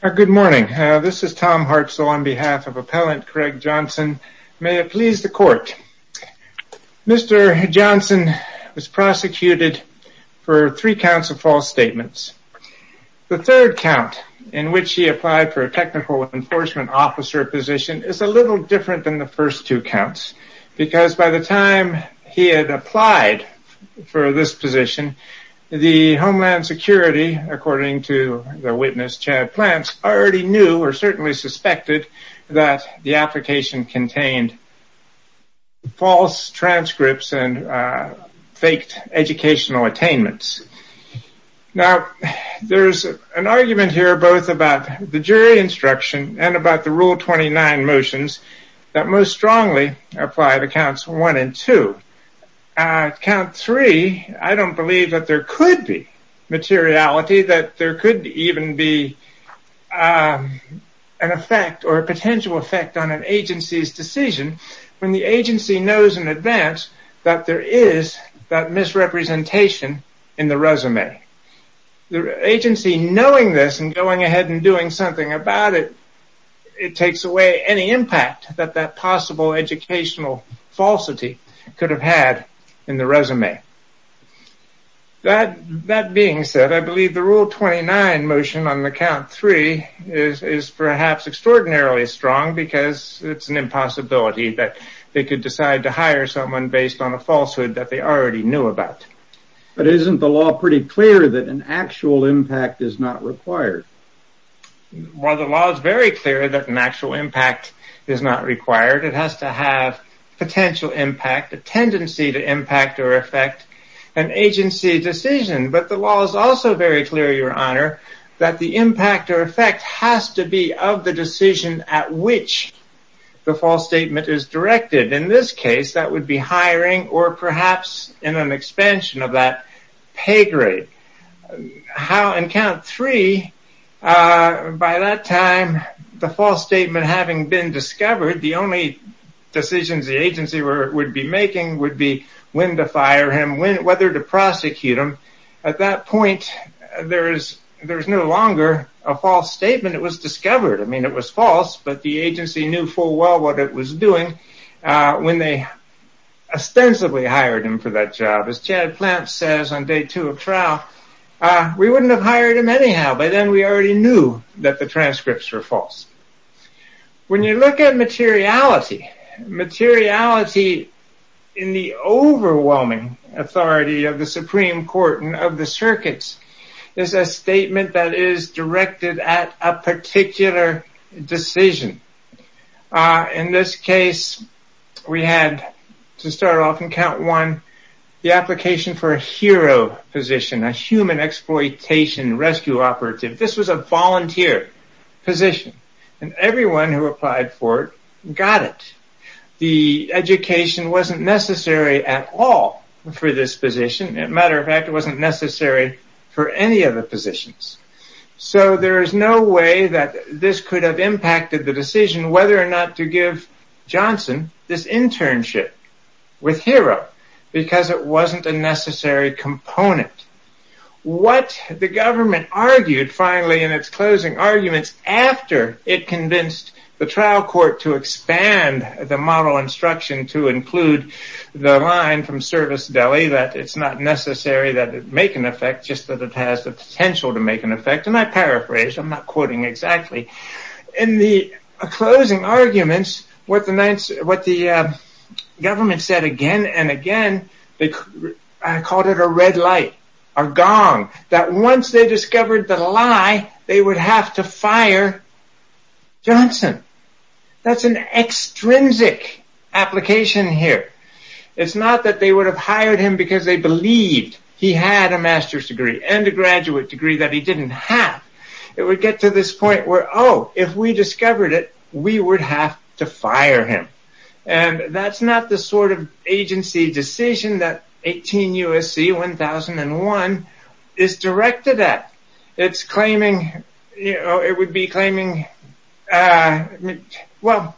Good morning, this is Tom Hartzell on behalf of appellant Gregg Johnson, may it please the court. Mr. Johnson was prosecuted for three counts of false statements. The third count in which he applied for a technical enforcement officer position is a little different than the first two counts because by the time he had applied for this position, the Homeland Security, according to the witness Chad Plants, already knew or certainly suspected that the application contained false transcripts and faked educational attainments. Now, there's an argument here both about the jury instruction and about the Rule 29 motions that most strongly apply to counts one and two. Count three, I don't believe that there could be materiality, that there could even be an effect or a potential effect on an agency's decision when the agency knows in advance that there is that misrepresentation in the resume. The agency knowing this and going ahead and doing something about it, it takes away any impact that that possible educational falsity could have had in the resume. That being said, I believe the Rule 29 motion on the count three is perhaps extraordinarily strong because it's an impossibility that they could decide to hire someone based on a falsehood that they already knew about. But isn't the law pretty clear that an actual impact is not required? Well, the law is very clear that an actual impact is not required. It has to have potential impact, a tendency to impact or affect an agency decision. But the law is also very clear, Your Honor, that the impact or effect has to be of the decision at which the false statement is of that pay grade. In count three, by that time, the false statement having been discovered, the only decisions the agency would be making would be when to fire him, whether to prosecute him. At that point, there is no longer a false statement. It was discovered. It was false, but the agency knew full well what it was doing when they ostensibly hired him for that job. As Chad Plant says on day two of trial, we wouldn't have hired him anyhow. By then, we already knew that the transcripts were false. When you look at materiality, materiality in the overwhelming authority of the Supreme Court and of the circuits is a statement that is directed at a particular decision. In this case, we had to start off in count one, the application for a hero position, a human exploitation rescue operative. This was a volunteer position. Everyone who applied for it got it. The education wasn't necessary at all for this position. As a matter of fact, it wasn't the decision whether or not to give Johnson this internship with Hero because it wasn't a necessary component. What the government argued finally in its closing arguments after it convinced the trial court to expand the model instruction to include the line from service deli that it's not necessary that it make an effect, just that it has the potential to make an effect. I paraphrase. I'm not quoting exactly. In the closing arguments, what the government said again and again, I called it a red light, a gong, that once they discovered the lie, they would have to fire Johnson. That's an extrinsic application here. It's not that they would have hired him because they believed he had a master's degree and a graduate degree that he didn't have. It would get to this point where, oh, if we discovered it, we would have to fire him. That's not the sort of agency decision that 18 U.S.C. 1001 is directed at. It would be claiming... rather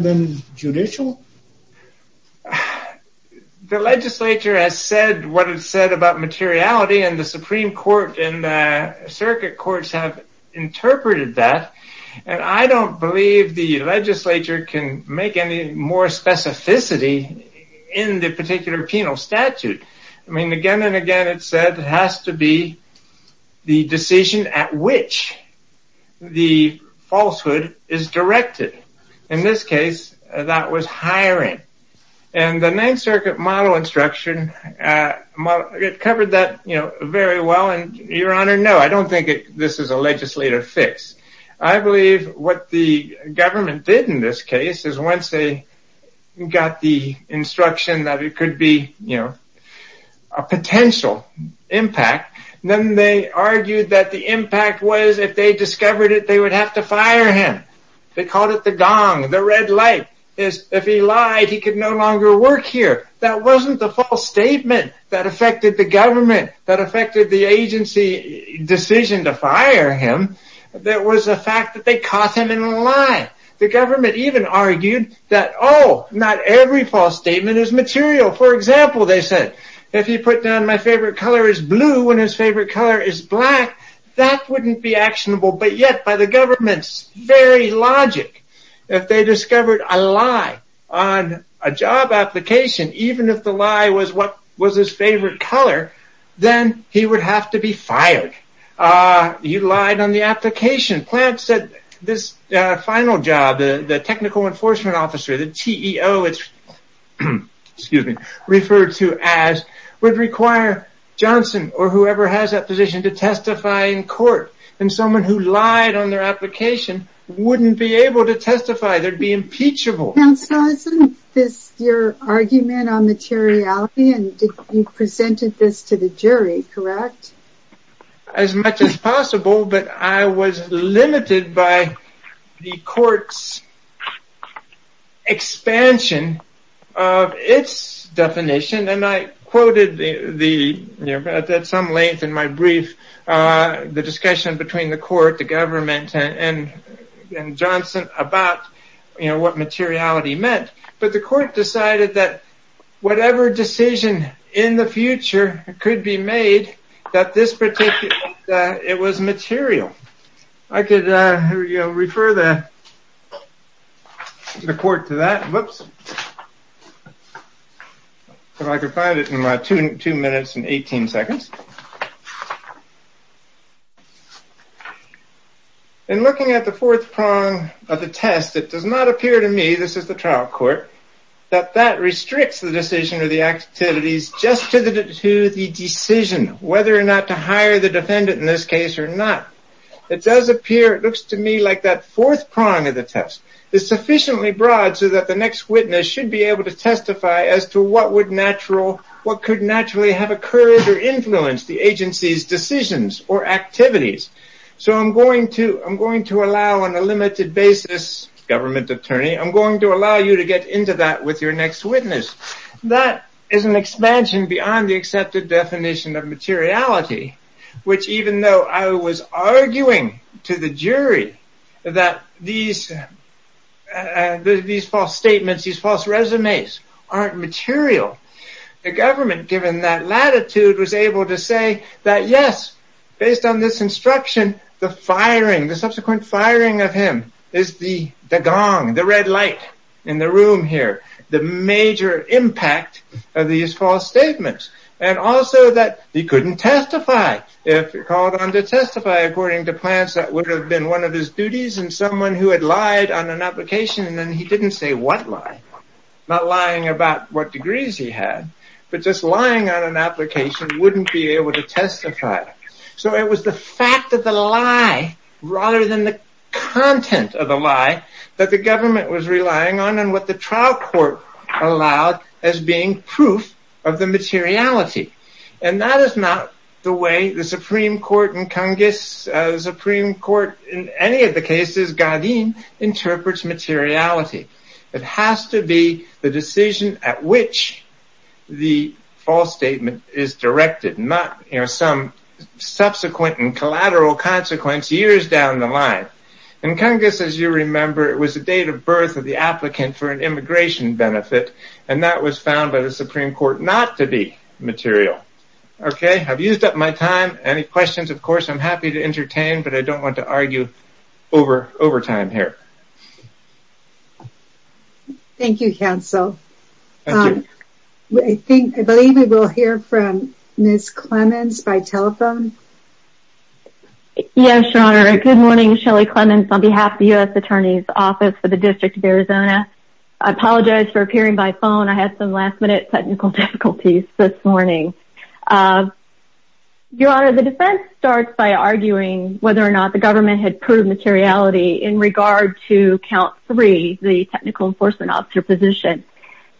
than judicial? The legislature has said what it said about materiality, and the Supreme Court and circuit courts have interpreted that, and I don't believe the legislature can make any more specificity in the particular penal statute. I mean, again and again, it said it has to be the decision at which the falsehood is directed. In this case, that was hiring, and the Ninth Circuit model instruction, it covered that very well, and your honor, no, I don't think this is a legislative fix. I believe what the government did in this case is once they got the instruction that it could be a potential impact, then they argued that the impact was if they discovered it, they would have to fire him. They called it the gong, the red light. If he lied, he could no longer work here. That wasn't the false statement that affected the government, that affected the agency decision to fire him. That was the fact that they caught him in a lie. The government even argued that, oh, not every false statement is material. For example, they said, if he put down my favorite color is blue and his favorite color is black, that wouldn't be actionable, but yet by the government's very logic, if they discovered a lie on a job application, even if the lie was his favorite color, then he would have to be fired. He lied on the application. Plant said this final job, the technical enforcement officer, the TEO, it's referred to as, would require Johnson or whoever has that position to testify in court, and someone who lied on their application wouldn't be able to testify. They'd be impeachable. Counsel, is this your argument on materiality, and you presented this to the jury, correct? As much as possible, but I was limited by the court's expansion of its definition, and I quoted at some length in my brief, the discussion between the court, the government, and Johnson about what materiality meant, but the court decided that whatever decision in the future could be made, that this particular, that it was material. I could refer the court to that, whoops, if I could find it in my two minutes and 18 seconds. In looking at the fourth prong of the test, it does not appear to me, this is the trial court, that that restricts the decision or the activities just to the decision, whether or not to hire the defendant in this case or not. It does appear, it looks to me like that fourth prong of the test is sufficiently broad so that the next witness should be able to testify as to what would natural, the agency's decisions or activities, so I'm going to allow on a limited basis, government attorney, I'm going to allow you to get into that with your next witness. That is an expansion beyond the accepted definition of materiality, which even though I was arguing to the jury that these false statements, these false resumes aren't material, the government, given that latitude, was able to say that yes, based on this instruction, the firing, the subsequent firing of him is the gong, the red light in the room here, the major impact of these false statements and also that he couldn't testify if he called on to testify according to plans that would have been one of his duties and someone who had lied on an application wouldn't be able to testify, so it was the fact of the lie rather than the content of the lie that the government was relying on and what the trial court allowed as being proof of the materiality and that is not the way the Supreme Court in Congress, the Supreme Court in any of the cases, Godine, interprets materiality. It has to be the decision at which the false statement is directed, not some subsequent and collateral consequence years down the line. Congress, as you remember, it was the date of birth of the applicant for an immigration benefit and that was found by the Supreme Court not to be material. I've used up my time, any questions, of course, I'm happy to entertain, but I don't want to argue over time here. Thank you, counsel. I think, I believe we will hear from Ms. Clemons by telephone. Yes, your honor. Good morning, Shelley Clemons on behalf of the U.S. Attorney's Office for the District of Arizona. I apologize for appearing by phone. I had some last minute technical difficulties this morning. Your honor, the defense starts by arguing whether or not the government had proved materiality in regard to count three, the technical enforcement officer position,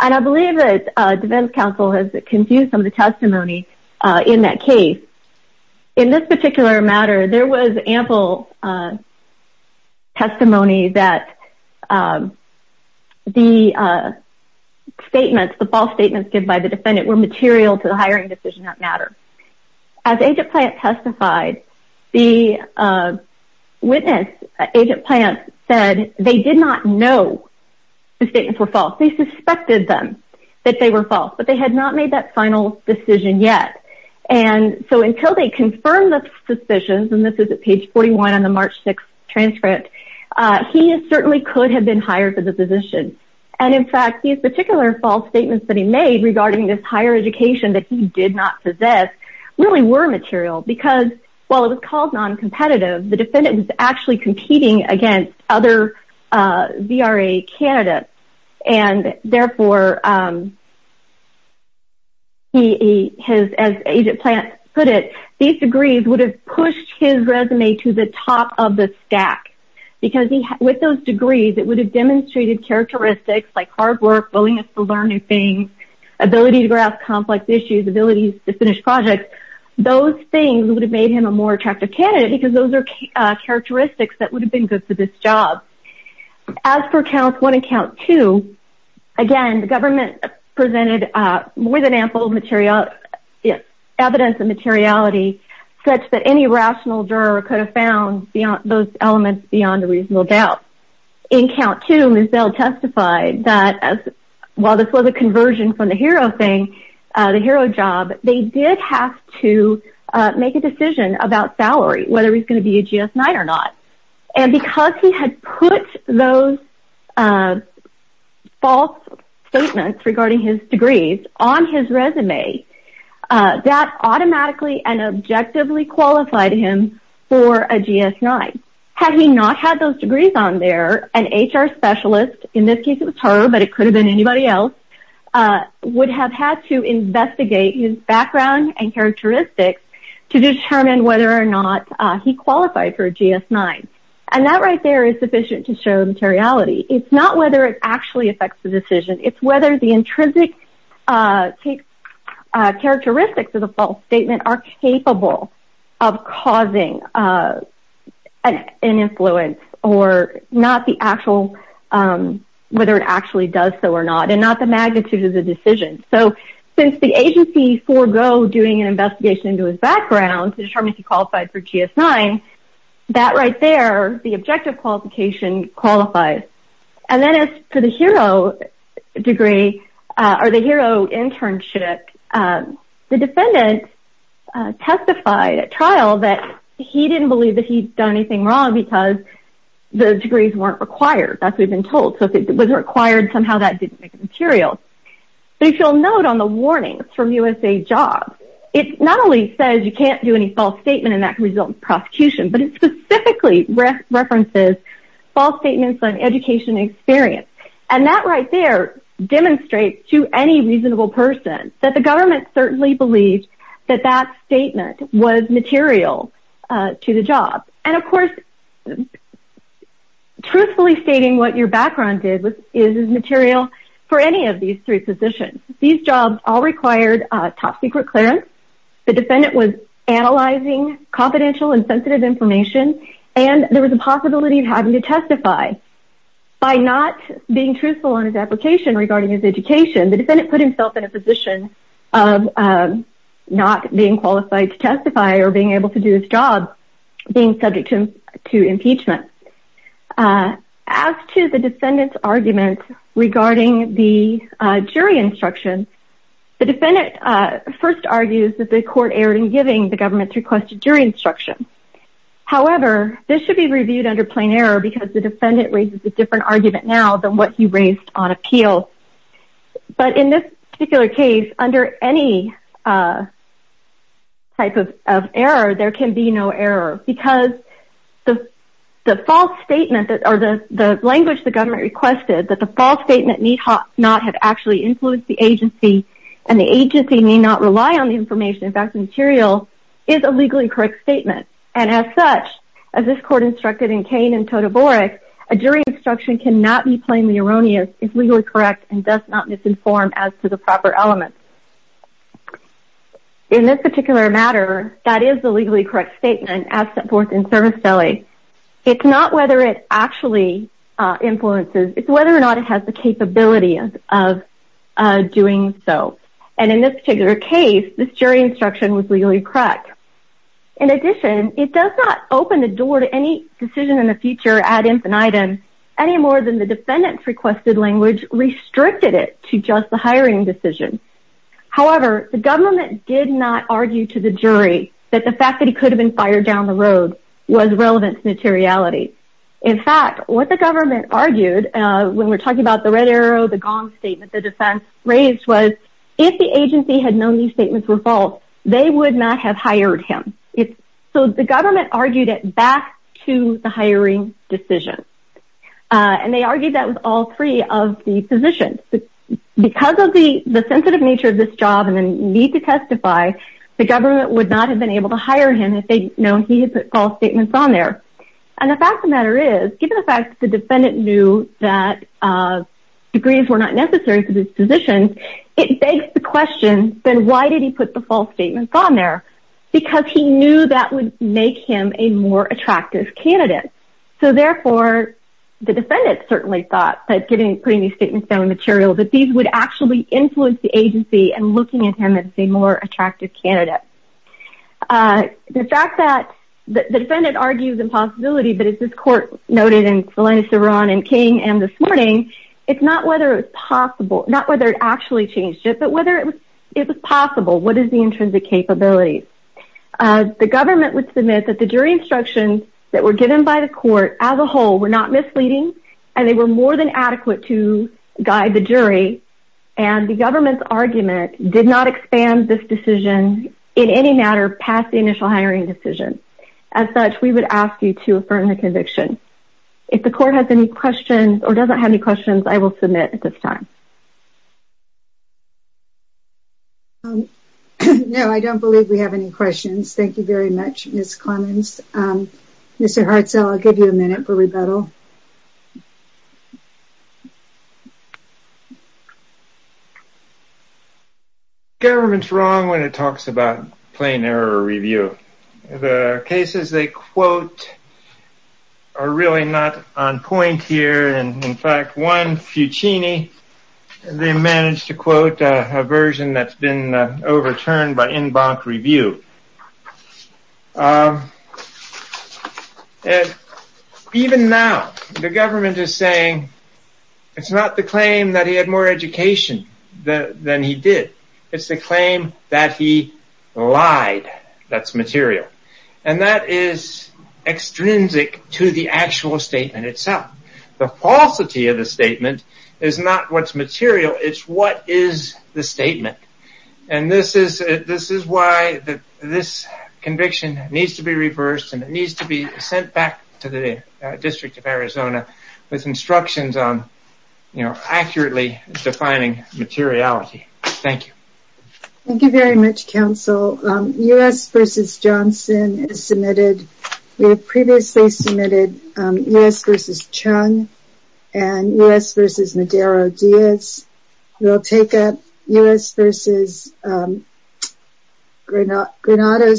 and I believe that defense counsel has confused some of the testimony in that case. In this particular matter, there was ample testimony that the statements, the false statements given by the defendant were material to the hiring decision that matter. As Agent Plant testified, the witness, Agent Plant, said they did not know the statements were false. They suspected them that they were false, but they had not made that final decision yet, and so until they confirmed the suspicions, and this is at page 41 on the March 6th transcript, he certainly could have been hired for the position, and in fact, these particular false statements that he made regarding this higher education that he did not possess really were material because while it was called non-competitive, the defendant was actually competing against other VRA candidates, and therefore, he has, as Agent Plant put it, these degrees would have pushed his resume to the top of the stack because with those degrees, it would have demonstrated characteristics like hard work, willingness to learn new things, ability to grasp complex issues, ability to finish projects. Those things would have made him a more attractive candidate because those are characteristics that would have been good for this job. As for count one and count two, again, the government presented more than ample evidence of materiality such that any rational juror could have found those elements beyond a reasonable doubt. In count two, Misdell testified that while this was a conversion from the hero thing, the hero job, they did have to make a decision about salary, whether he's going to be a GS-9 or not, and because he had put those false statements regarding his GS-9. Had he not had those degrees on there, an HR specialist, in this case it was her, but it could have been anybody else, would have had to investigate his background and characteristics to determine whether or not he qualified for a GS-9, and that right there is sufficient to show materiality. It's not whether it actually affects the decision, it's whether the intrinsic characteristics of the false statement are capable of causing an influence or not the actual, whether it actually does so or not, and not the magnitude of the decision. So, since the agency forgo doing an investigation into his background to determine if he qualified for GS-9, that right there, the objective qualification qualifies. And then as for the hero degree, or the hero internship, the defendant testified at trial that he didn't believe that he'd done anything wrong because the degrees weren't required, that's what we've been told. So, if it was required, somehow that didn't make it material. But if you'll note on the warnings from USAJOBS, it not only says you can't do any false statement and that can result in prosecution, but it specifically references false statements on education experience, and that right there demonstrates to any reasonable person that the government certainly believed that that statement was material to the job. And of course, truthfully stating what your background is is material for any of these three positions. These jobs all required top-secret clearance, the defendant was analyzing confidential and sensitive information, and there was a possibility of having to testify by not being truthful on his application regarding his education. The defendant put himself in a position of not being qualified to testify or being able to do his job being subject to impeachment. As to the defendant's argument regarding the jury instruction, the defendant first argues that the court erred in giving the government's requested jury instruction. However, this should be reviewed under plain error because the defendant raises a different argument now than what he raised on appeal. But in this particular case, under any type of error, there can be no error because the language the government requested that the false statement need not have actually influenced the agency and the agency may not rely on the material is a legally correct statement. And as such, as this court instructed in Kane and Toda Borick, a jury instruction cannot be plainly erroneous, is legally correct, and does not misinform as to the proper elements. In this particular matter, that is the legally correct statement as set forth in Service Valley. It's not whether it actually influences, it's whether or not it has the capability of doing so. And in this particular case, this jury instruction was legally correct. In addition, it does not open the door to any decision in the future ad infinitum any more than the defendant's requested language restricted it to just the hiring decision. However, the government did not argue to the jury that the fact that he could have been fired down the road was relevant to materiality. In fact, what the government argued, when we're talking about the red arrow, the gong statement, the defense raised was, if the agency had known these statements were false, they would not have hired him. It's so the government argued it back to the hiring decision. And they argued that with all three of the positions. Because of the the sensitive nature of this job and then need to testify, the government would not have been able to hire him if they'd known he had put false statements on there. And the fact of the matter is, given the fact that the defendant knew that degrees were not necessary for this position, it begs the question, then why did he put the false statements on there? Because he knew that would make him a more attractive candidate. So therefore, the defendant certainly thought that getting putting these statements down material that these would actually influence the agency and looking at him as a more that the defendant argues impossibility, but it's this court noted in Salinas, Iran and King and this morning, it's not whether it's possible, not whether it actually changed it, but whether it was possible, what is the intrinsic capability, the government would submit that the jury instructions that were given by the court as a whole were not misleading. And they were more than adequate to guide the jury. And the government's argument did not expand this decision in any matter past the initial hiring decision. As such, we would ask you to affirm the conviction. If the court has any questions or doesn't have any questions, I will submit at this time. No, I don't believe we have any questions. Thank you very much, Ms. Clemens. Mr. Hartzell, I'll give you a minute for rebuttal. The government's wrong when it talks about plain error review. The cases they quote are really not on point here. And in fact, one, Fucini, they managed to quote a version that's been overturned by en banc review. And even now, the government is saying it's not the claim that he had more education than he did. It's the claim that he lied, that's material. And that is extrinsic to the actual statement itself. The falsity of the statement is not what's material, it's what is the statement. And this is why this conviction needs to be reversed and it needs to be sent back to the District of Arizona with instructions on accurately defining materiality. Thank you. Thank you very much, counsel. U.S. versus Johnson is submitted. We have previously submitted U.S. Granada, Saldana.